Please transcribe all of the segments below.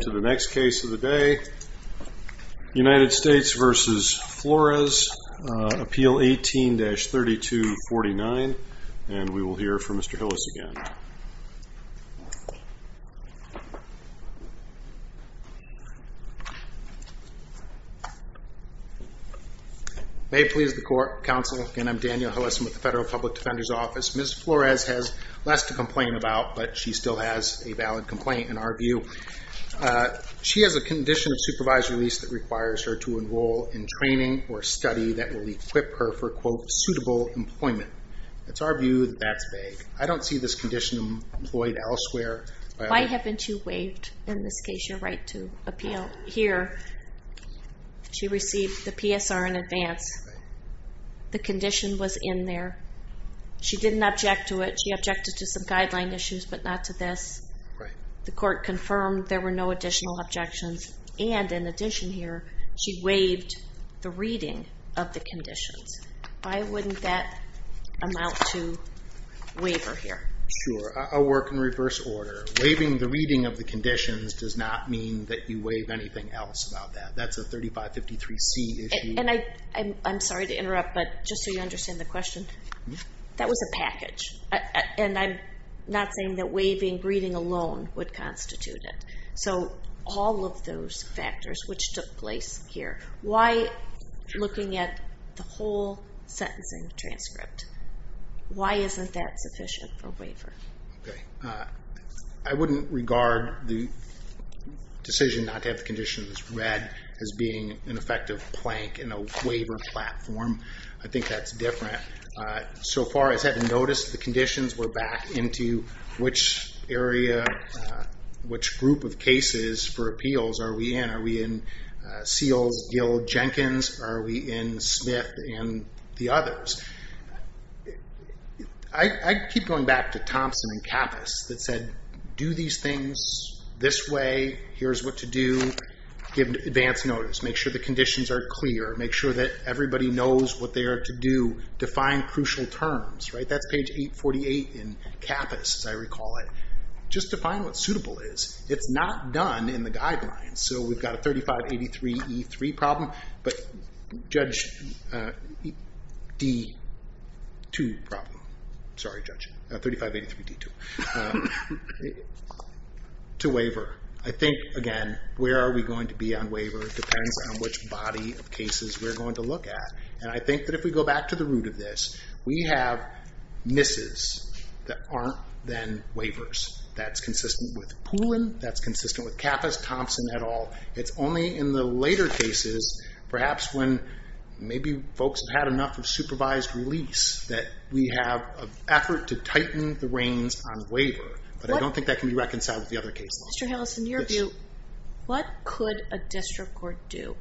To the next case of the day, United States v. Flores, appeal 18-3249, and we will hear from Mr. Hillis again. May it please the court, counsel, again, I'm Daniel Hillis with the Federal Public Defender's Office. Ms. Flores has less to complain about, but she still has a valid complaint in our view. She has a condition of supervised release that requires her to enroll in training or study that will equip her for, quote, suitable employment. It's our view that that's vague. I don't see this condition employed elsewhere. Why haven't you waived, in this case, your right to appeal here? She received the PSR in advance. The condition was in there. She didn't object to it. She objected to some guideline issues, but not to this. The court confirmed there were no additional objections, and in addition here, she waived the reading of the conditions. Why wouldn't that amount to waiver here? Sure, I'll work in reverse order. Waiving the reading of the conditions does not mean that you waive anything else about that. That's a 3553C issue. And I'm sorry to interrupt, but just so you understand the question, that was a package, and I'm not saying that waiving reading alone would constitute it. So, all of those factors which took place here, why, looking at the whole sentencing transcript, why isn't that sufficient for waiver? I wouldn't regard the decision not to have the conditions read as being an effective plank in a waiver platform. I think that's different. So far, as I've noticed, the conditions were back into which area, which group of cases for appeals are we in? Are we in Seals, Gill, Jenkins? Are we in Smith and the others? I keep going back to Thompson and Kappas that said, do these things this way. Here's what to do. Give advance notice. Make sure the conditions are clear. Make sure that everybody knows what they are to do. Define crucial terms. That's page 848 in Kappas, as I recall it. Just define what suitable is. It's not done in the guidelines. So we've got a 3583E3 problem, but Judge D2 problem. Sorry, Judge. 3583D2. To waiver. I think, again, where are we going to be on waiver depends on which body of cases we're going to look at. And I think that if we go back to the root of this, we have misses that aren't then waivers. That's consistent with Pulin. That's consistent with Kappas, Thompson, et al. It's only in the later cases, perhaps when maybe folks have had enough of supervised release, that we have an effort to tighten the reins on waiver. But I don't think that can be reconciled with the other cases. Mr. Hales, in your view, what could a district court do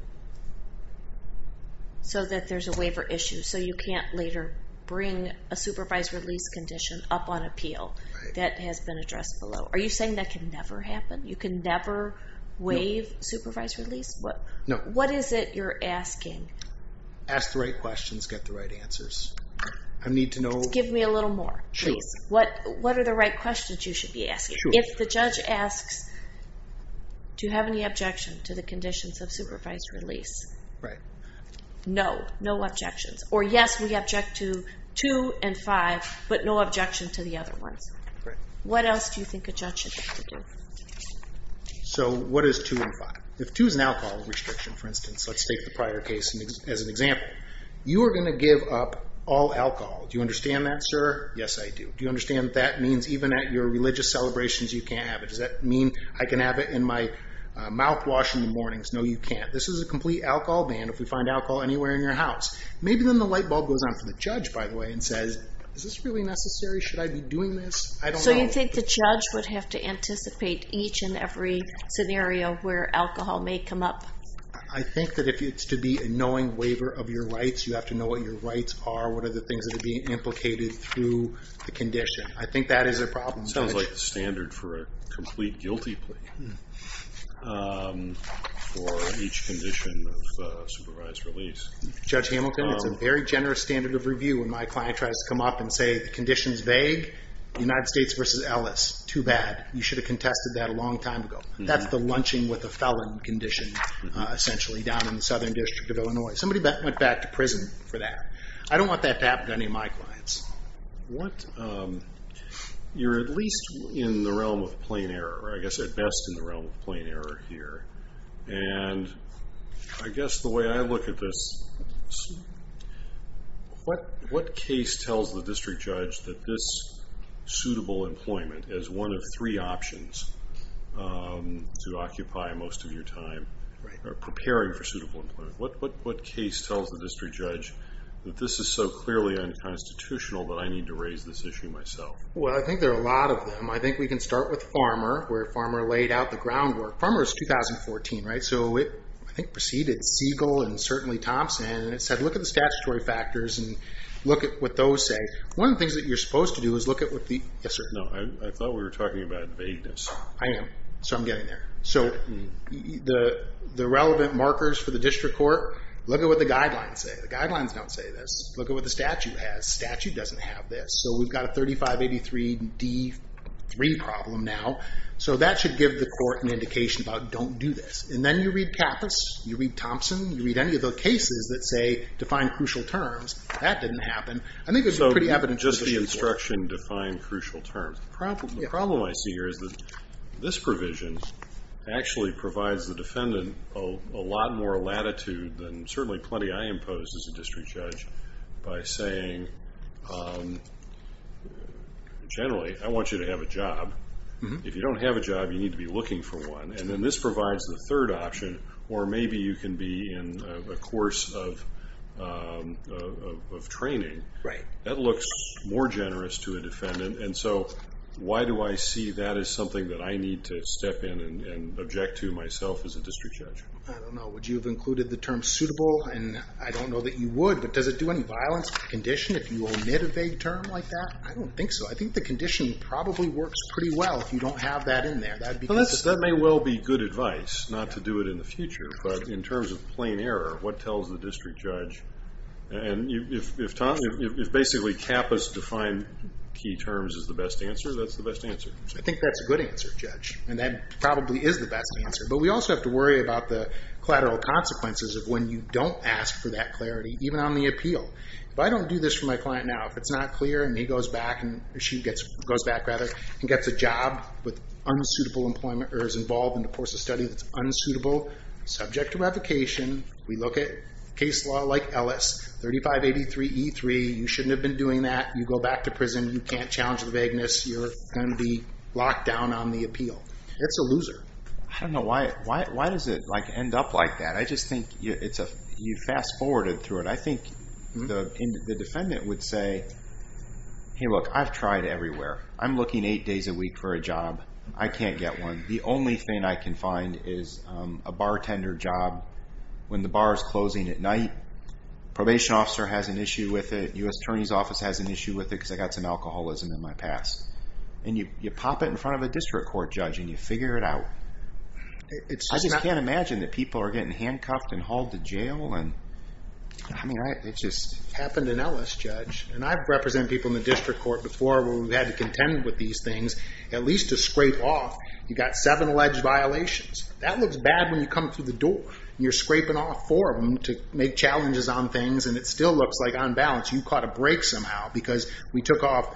so that there's a waiver issue, so you can't later bring a supervised release condition up on appeal that has been addressed below? Are you saying that can never happen? You can never waive supervised release? No. What is it you're asking? Ask the right questions, get the right answers. I need to know... Give me a little more, please. Sure. What are the right questions you should be asking? Sure. If the judge asks, do you have any objection to the conditions of supervised release? Right. No. No objections. Or yes, we object to 2 and 5, but no objection to the other ones. Right. What else do you think a judge should have to give? So, what is 2 and 5? If 2 is an alcohol restriction, for instance, let's take the prior case as an example. You are going to give up all alcohol. Do you understand that, sir? Yes, I do. Do you understand that means even at your religious celebrations you can't have it? Does that mean I can have it in my mouthwash in the mornings? No, you can't. This is a complete alcohol ban if we find alcohol anywhere in your house. Maybe then the light bulb goes on for the judge, by the way, and says, is this really necessary? Should I be doing this? I don't know. So, you think the judge would have to anticipate each and every scenario where alcohol may come up? I think that if it's to be a knowing waiver of your rights, you have to know what your rights are, what are the things that are being implicated through the condition. I think that is a problem. It sounds like the standard for a complete guilty plea for each condition of supervised release. Judge Hamilton, it's a very generous standard of review when my client tries to come up and say the condition is vague, United States versus Ellis, too bad. You should have contested that a long time ago. That's the lunching with a felon condition, essentially, down in the Southern District of Illinois. Somebody went back to prison for that. I don't want that to happen to any of my clients. You're at least in the realm of plain error, or I guess at best in the realm of plain error here. I guess the way I look at this, what case tells the district judge that this suitable employment is one of three options to occupy most of your time, or preparing for suitable employment? What case tells the district judge that this is so clearly unconstitutional that I need to raise this issue myself? Well, I think there are a lot of them. I think we can start with Farmer, where Farmer laid out the groundwork. Farmer is 2014, right? So it, I think, preceded Siegel and certainly Thompson, and it said look at the statutory factors and look at what those say. One of the things that you're supposed to do is look at what the— Yes, sir. No, I thought we were talking about vagueness. I am. So I'm getting there. So the relevant markers for the district court, look at what the guidelines say. The guidelines don't say this. Look at what the statute has. The statute doesn't have this. So we've got a 3583 D3 problem now. So that should give the court an indication about don't do this. And then you read Kappas, you read Thompson, you read any of the cases that say define crucial terms. That didn't happen. I think it's pretty evident to the district court. So just the instruction define crucial terms. The problem I see here is that this provision actually provides the defendant a lot more latitude than certainly plenty I imposed as a district judge by saying generally I want you to have a job. If you don't have a job, you need to be looking for one. And then this provides the third option, or maybe you can be in a course of training. That looks more generous to a defendant. And so why do I see that as something that I need to step in and object to myself as a district judge? I don't know. Would you have included the term suitable? And I don't know that you would. But does it do any violence to the condition if you omit a vague term like that? I don't think so. I think the condition probably works pretty well if you don't have that in there. That may well be good advice not to do it in the future. But in terms of plain error, what tells the district judge? And if basically Kappa's defined key terms is the best answer, that's the best answer. I think that's a good answer, Judge. And that probably is the best answer. But we also have to worry about the collateral consequences of when you don't ask for that clarity, even on the appeal. If I don't do this for my client now, if it's not clear and he goes back and she goes back, rather, and gets a job with unsuitable employment or is involved in a course of study that's unsuitable, subject to revocation, we look at case law like Ellis, 3583E3, you shouldn't have been doing that. You go back to prison. You can't challenge the vagueness. You're going to be locked down on the appeal. It's a loser. I don't know. Why does it end up like that? I just think you fast-forwarded through it. I think the defendant would say, hey, look, I've tried everywhere. I'm looking eight days a week for a job. I can't get one. The only thing I can find is a bartender job when the bar is closing at night. Probation officer has an issue with it. U.S. Attorney's Office has an issue with it because I've got some alcoholism in my past. And you pop it in front of a district court judge and you figure it out. I just can't imagine that people are getting handcuffed and hauled to jail. I mean, it just happened in Ellis, Judge. And I've represented people in the district court before where we've had to contend with these things at least to scrape off. You've got seven alleged violations. That looks bad when you come through the door. You're scraping off four of them to make challenges on things, and it still looks like, on balance, you caught a break somehow because we took off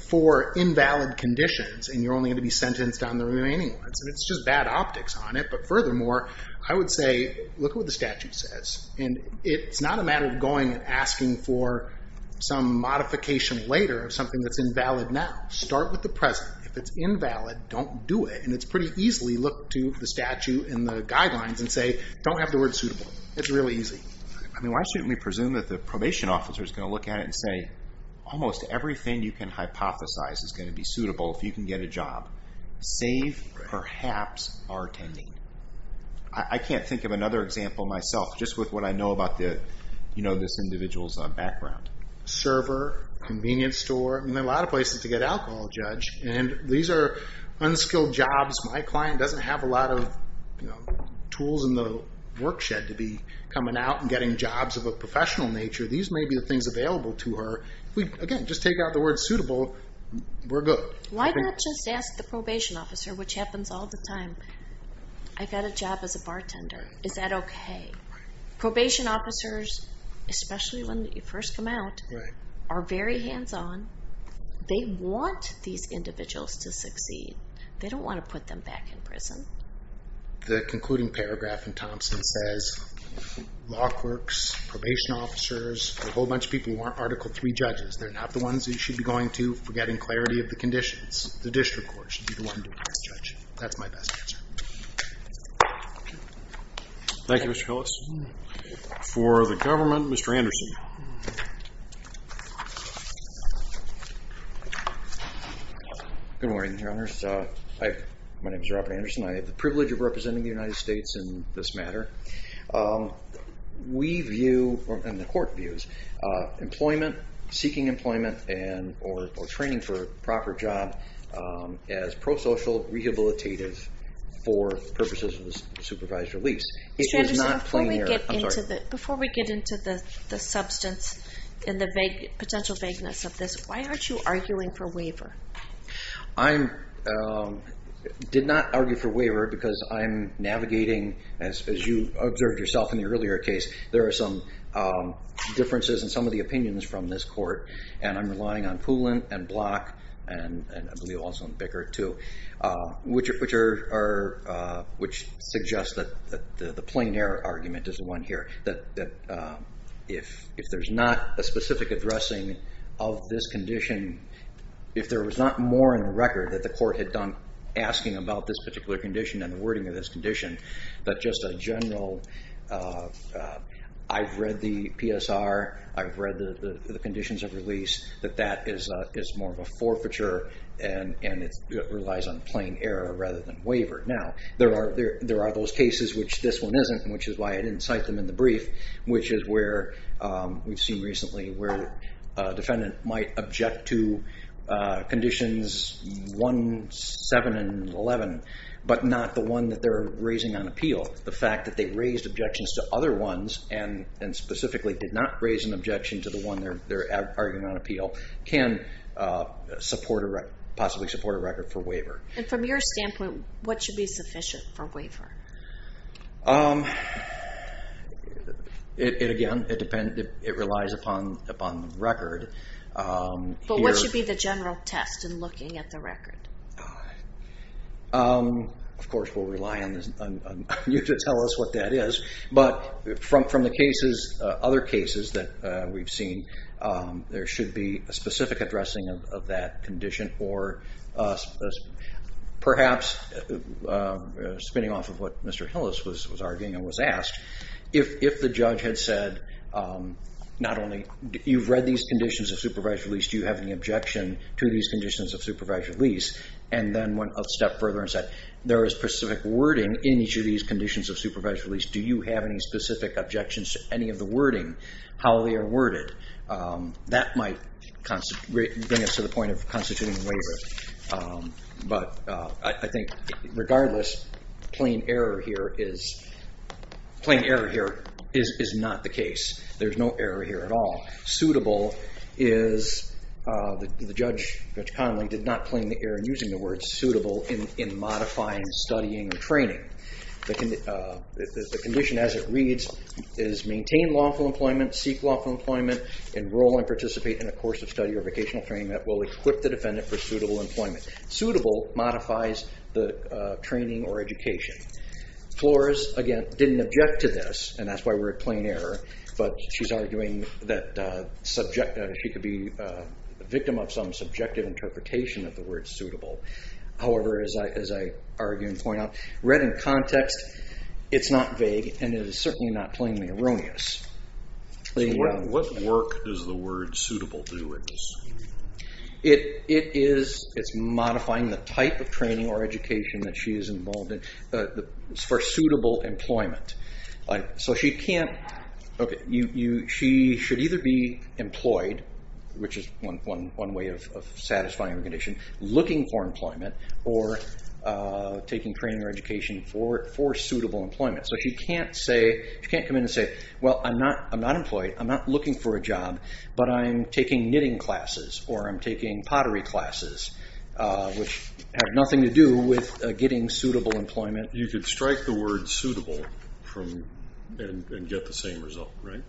four invalid conditions and you're only going to be sentenced on the remaining ones. And it's just bad optics on it. But furthermore, I would say look at what the statute says. And it's not a matter of going and asking for some modification later of something that's invalid now. Start with the present. If it's invalid, don't do it. And it's pretty easy. Look to the statute and the guidelines and say, don't have the word suitable. It's really easy. I mean, why shouldn't we presume that the probation officer is going to look at it and say, almost everything you can hypothesize is going to be suitable if you can get a job, save perhaps bartending? I can't think of another example myself, just with what I know about this individual's background. Server, convenience store. I mean, there are a lot of places to get alcohol, Judge. And these are unskilled jobs. My client doesn't have a lot of tools in the work shed to be coming out and getting jobs of a professional nature. These may be the things available to her. If we, again, just take out the word suitable, we're good. Why not just ask the probation officer, which happens all the time, I got a job as a bartender. Is that okay? Probation officers, especially when you first come out, are very hands-on. They want these individuals to succeed. They don't want to put them back in prison. The concluding paragraph in Thompson says, law clerks, probation officers, a whole bunch of people who aren't Article III judges. They're not the ones you should be going to for getting clarity of the conditions. The district court should be the one doing this, Judge. That's my best answer. Thank you, Mr. Hillis. For the government, Mr. Anderson. Good morning, Your Honors. My name is Robert Anderson. I have the privilege of representing the United States in this matter. We view, and the court views, employment, seeking employment, or training for a proper job as pro-social, rehabilitative for purposes of supervised release. Mr. Anderson, before we get into the substance and the potential vagueness of this, why aren't you arguing for waiver? I did not argue for waiver because I'm navigating, as you observed yourself in the earlier case, there are some differences in some of the opinions from this court. I'm relying on Poulin and Block, and I believe also on Bickert too, which suggests that the plein air argument is the one here, that if there's not a specific addressing of this condition, if there was not more in the record that the court had done asking about this particular condition and the wording of this condition, that just a general, I've read the PSR, I've read the conditions of release, that that is more of a forfeiture and it relies on plein air rather than waiver. Now, there are those cases which this one isn't, which is why I didn't cite them in the brief, which is where we've seen recently where a defendant might object to Conditions 1, 7, and 11, but not the one that they're raising on appeal. The fact that they raised objections to other ones, and specifically did not raise an objection to the one they're arguing on appeal, can possibly support a record for waiver. From your standpoint, what should be sufficient for waiver? Again, it relies upon the record. But what should be the general test in looking at the record? Of course, we'll rely on you to tell us what that is, but from the cases, other cases that we've seen, there should be a specific addressing of that condition or perhaps spinning off of what Mr. Hillis was arguing and was asked, if the judge had said not only you've read these conditions of supervised release, do you have any objection to these conditions of supervised release? And then went a step further and said, there is specific wording in each of these conditions of supervised release. Do you have any specific objections to any of the wording, how they are worded? That might bring us to the point of constituting a waiver. But I think, regardless, plain error here is not the case. There's no error here at all. Suitable is the judge, Judge Connolly, did not claim the error in using the word suitable in modifying studying or training. The condition as it reads is maintain lawful employment, seek lawful employment, enroll and participate in a course of study or vocational training that will equip the defendant for suitable employment. Suitable modifies the training or education. Flores, again, didn't object to this, and that's why we're at plain error, but she's arguing that she could be a victim of some subjective interpretation of the word suitable. However, as I argue and point out, read in context, it's not vague, and it is certainly not plainly erroneous. What work does the word suitable do in this? It is modifying the type of training or education that she is involved in for suitable employment. She should either be employed, which is one way of satisfying the condition, looking for employment, or taking training or education for suitable employment. She can't come in and say, well, I'm not employed, I'm not looking for a job, but I'm taking knitting classes or I'm taking pottery classes, which have nothing to do with getting suitable employment. You could strike the word suitable and get the same result, right?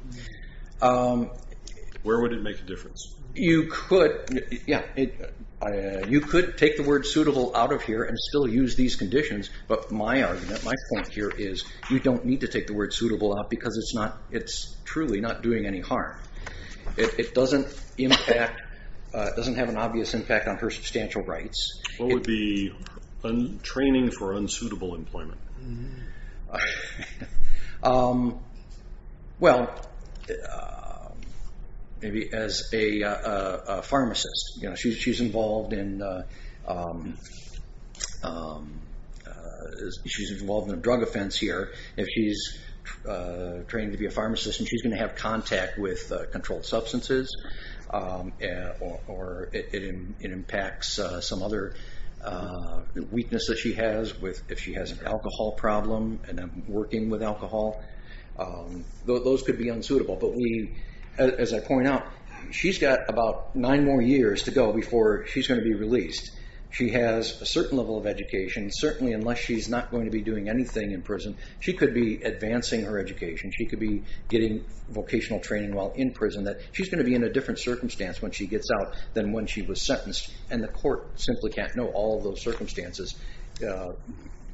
Where would it make a difference? You could take the word suitable out of here and still use these conditions, but my argument, my point here is you don't need to take the word suitable out because it's truly not doing any harm. It doesn't have an obvious impact on her substantial rights. What would be training for unsuitable employment? Well, maybe as a pharmacist. She's involved in a drug offense here. If she's trained to be a pharmacist and she's going to have contact with the weakness that she has if she has an alcohol problem and working with alcohol, those could be unsuitable. But as I point out, she's got about nine more years to go before she's going to be released. She has a certain level of education. Certainly, unless she's not going to be doing anything in prison, she could be advancing her education. She could be getting vocational training while in prison. She's going to be in a different circumstance when she gets out than when she was sentenced, and the court simply can't know all of those circumstances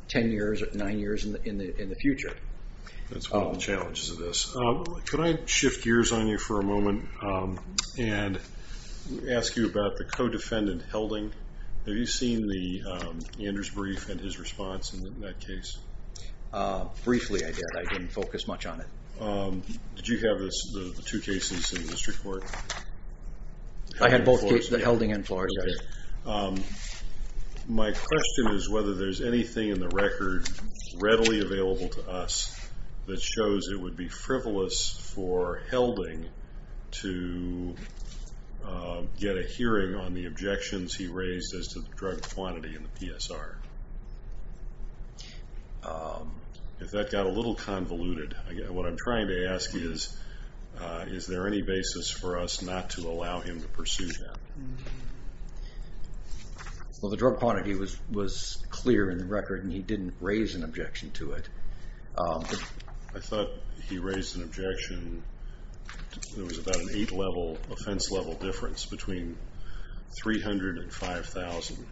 ten years, nine years in the future. That's one of the challenges of this. Could I shift gears on you for a moment and ask you about the co-defendant, Helding? Have you seen the Anders brief and his response in that case? Briefly, I did. I didn't focus much on it. Did you have the two cases in the district court? I had both the Helding and Flaherty. My question is whether there's anything in the record readily available to us that shows it would be frivolous for Helding to get a hearing on the objections he raised as to the drug quantity in the PSR. If that got a little convoluted, what I'm trying to ask is, is there any basis for us not to allow him to pursue that? Well, the drug quantity was clear in the record, and he didn't raise an objection to it. I thought he raised an objection. There was about an eight-level offense-level difference between 300 and 5,000.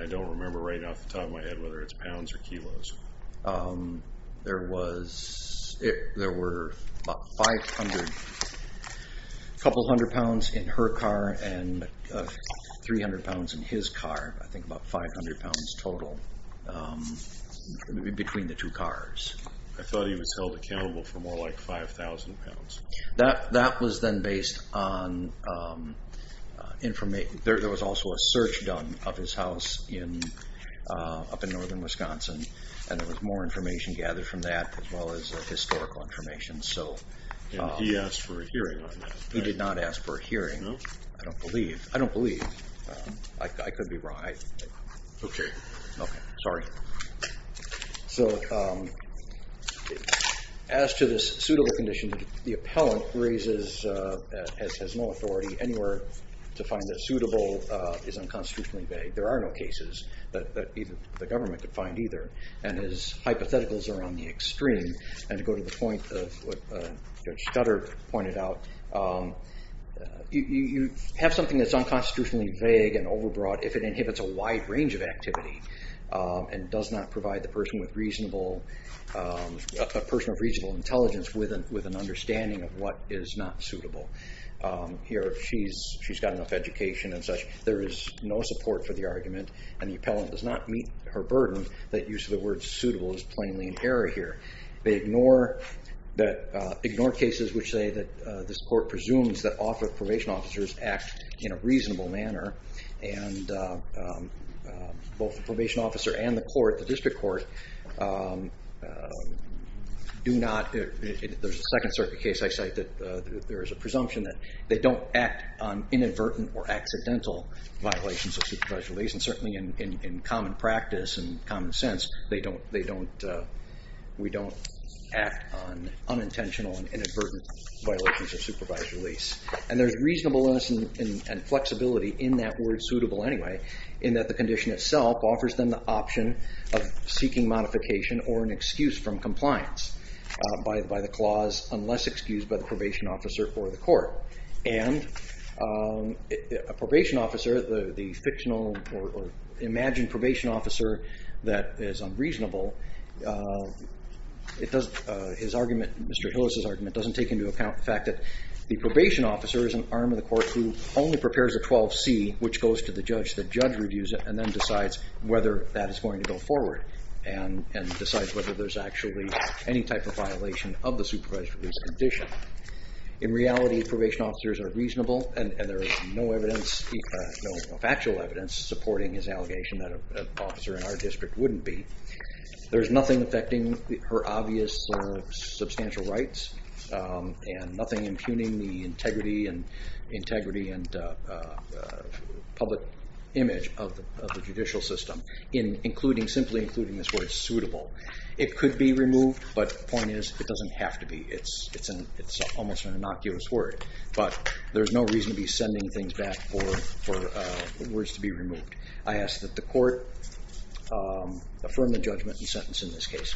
I don't remember right off the top of my head whether it's pounds or kilos. There were about 500, a couple hundred pounds in her car and 300 pounds in his car, I think about 500 pounds total between the two cars. I thought he was held accountable for more like 5,000 pounds. That was then based on information. There was also a search done of his house up in northern Wisconsin, and there was more information gathered from that as well as historical information. And he asked for a hearing on that? He did not ask for a hearing. No? I don't believe. I don't believe. I could be wrong. Okay. Okay. Sorry. So as to this suitable condition, the appellant raises, has no authority anywhere to find that suitable is unconstitutionally vague. There are no cases that the government could find either, and his hypotheticals are on the extreme. And to go to the point of what Judge Scudder pointed out, you have something that's unconstitutionally vague and overbroad if it inhibits a wide range of activity. And does not provide the person with reasonable, a person of reasonable intelligence with an understanding of what is not suitable. Here, she's got enough education and such. There is no support for the argument, and the appellant does not meet her burden that use of the word suitable is plainly an error here. They ignore cases which say that this court presumes that probation officers act in a reasonable manner, and both the probation officer and the court, the district court, do not, there's a Second Circuit case I cite that there is a presumption that they don't act on inadvertent or accidental violations of supervised release, and certainly in common practice and common sense, they don't, we don't act on unintentional and inadvertent violations of supervised release. And there's reasonableness and flexibility in that word suitable anyway, in that the condition itself offers them the option of seeking modification or an excuse from compliance by the clause, unless excused by the probation officer or the court. And a probation officer, the fictional or imagined probation officer that is unreasonable, his argument, Mr. Hillis' argument, doesn't take into account the fact that the probation officer is an arm of the court who only prepares a 12C, which goes to the judge. The judge reviews it and then decides whether that is going to go forward and decides whether there's actually any type of violation of the supervised release condition. In reality, probation officers are reasonable, and there is no evidence, no factual evidence, supporting his allegation that an officer in our district wouldn't be. There's nothing affecting her obvious or substantial rights and nothing impugning the integrity and public image of the judicial system in including, simply including this word suitable. It could be removed, but the point is it doesn't have to be. It's almost an innocuous word, but there's no reason to be sending things back for words to be removed. I ask that the court affirm the judgment and sentence in this case.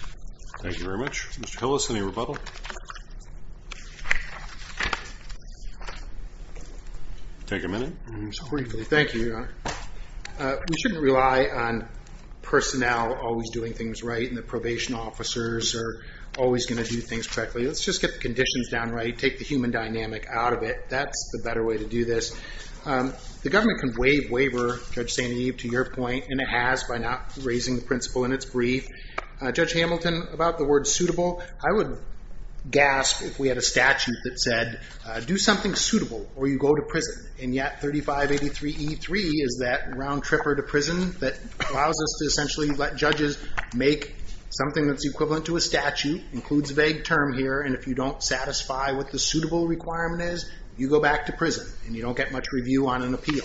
Thank you very much. Mr. Hillis, any rebuttal? Take a minute. Briefly, thank you, Your Honor. We shouldn't rely on personnel always doing things right and the probation officers are always going to do things correctly. Let's just get the conditions down right, take the human dynamic out of it. That's the better way to do this. The government can waive waiver, Judge St. Eve, to your point, and it has by not raising the principle in its brief. Judge Hamilton, about the word suitable, I would gasp if we had a statute that said do something suitable or you go to prison, and yet 3583E3 is that round-tripper to prison that allows us to essentially let judges make something that's equivalent to a statute, includes a vague term here, and if you don't satisfy what the suitable requirement is, you go back to prison and you don't get much review on an appeal.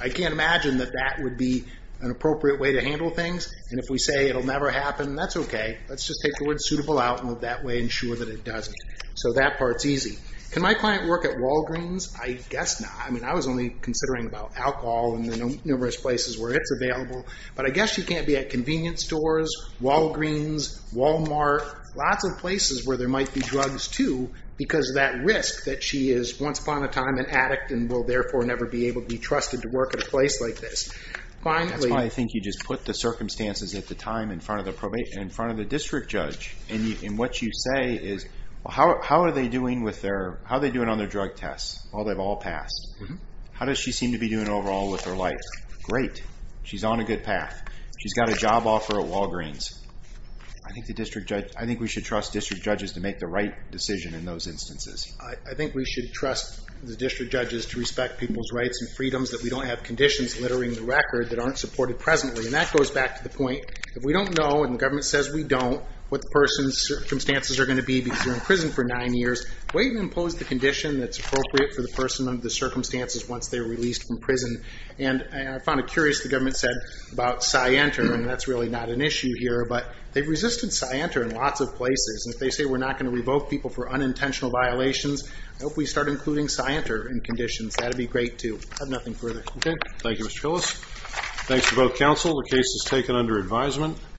I can't imagine that that would be an appropriate way to handle things, and if we say it will never happen, that's okay. Let's just take the word suitable out and move that way and ensure that it doesn't. So that part's easy. Can my client work at Walgreens? I guess not. I mean, I was only considering about alcohol and the numerous places where it's available, but I guess she can't be at convenience stores, Walgreens, Walmart, lots of places where there might be drugs too because of that risk that she is once upon a time an addict and will therefore never be able to be trusted to work at a place like this. That's why I think you just put the circumstances at the time in front of the district judge, and what you say is how are they doing on their drug tests? Well, they've all passed. How does she seem to be doing overall with her life? Great. She's on a good path. She's got a job offer at Walgreens. I think we should trust district judges to make the right decision in those instances. I think we should trust the district judges to respect people's rights and freedoms that we don't have conditions littering the record that aren't supported presently. And that goes back to the point that if we don't know, and the government says we don't, what the person's circumstances are going to be because they're in prison for nine years, wait and impose the condition that's appropriate for the person under the circumstances once they're released from prison. And I found it curious the government said about Cy Enter, and that's really not an issue here, but they've resisted Cy Enter in lots of places, and if they say we're not going to revoke people for unintentional violations, I hope we start including Cy Enter in conditions. That would be great too. I have nothing further. Okay. Thank you, Mr. Phillips. Thanks to both counsel. The case is taken under advisement.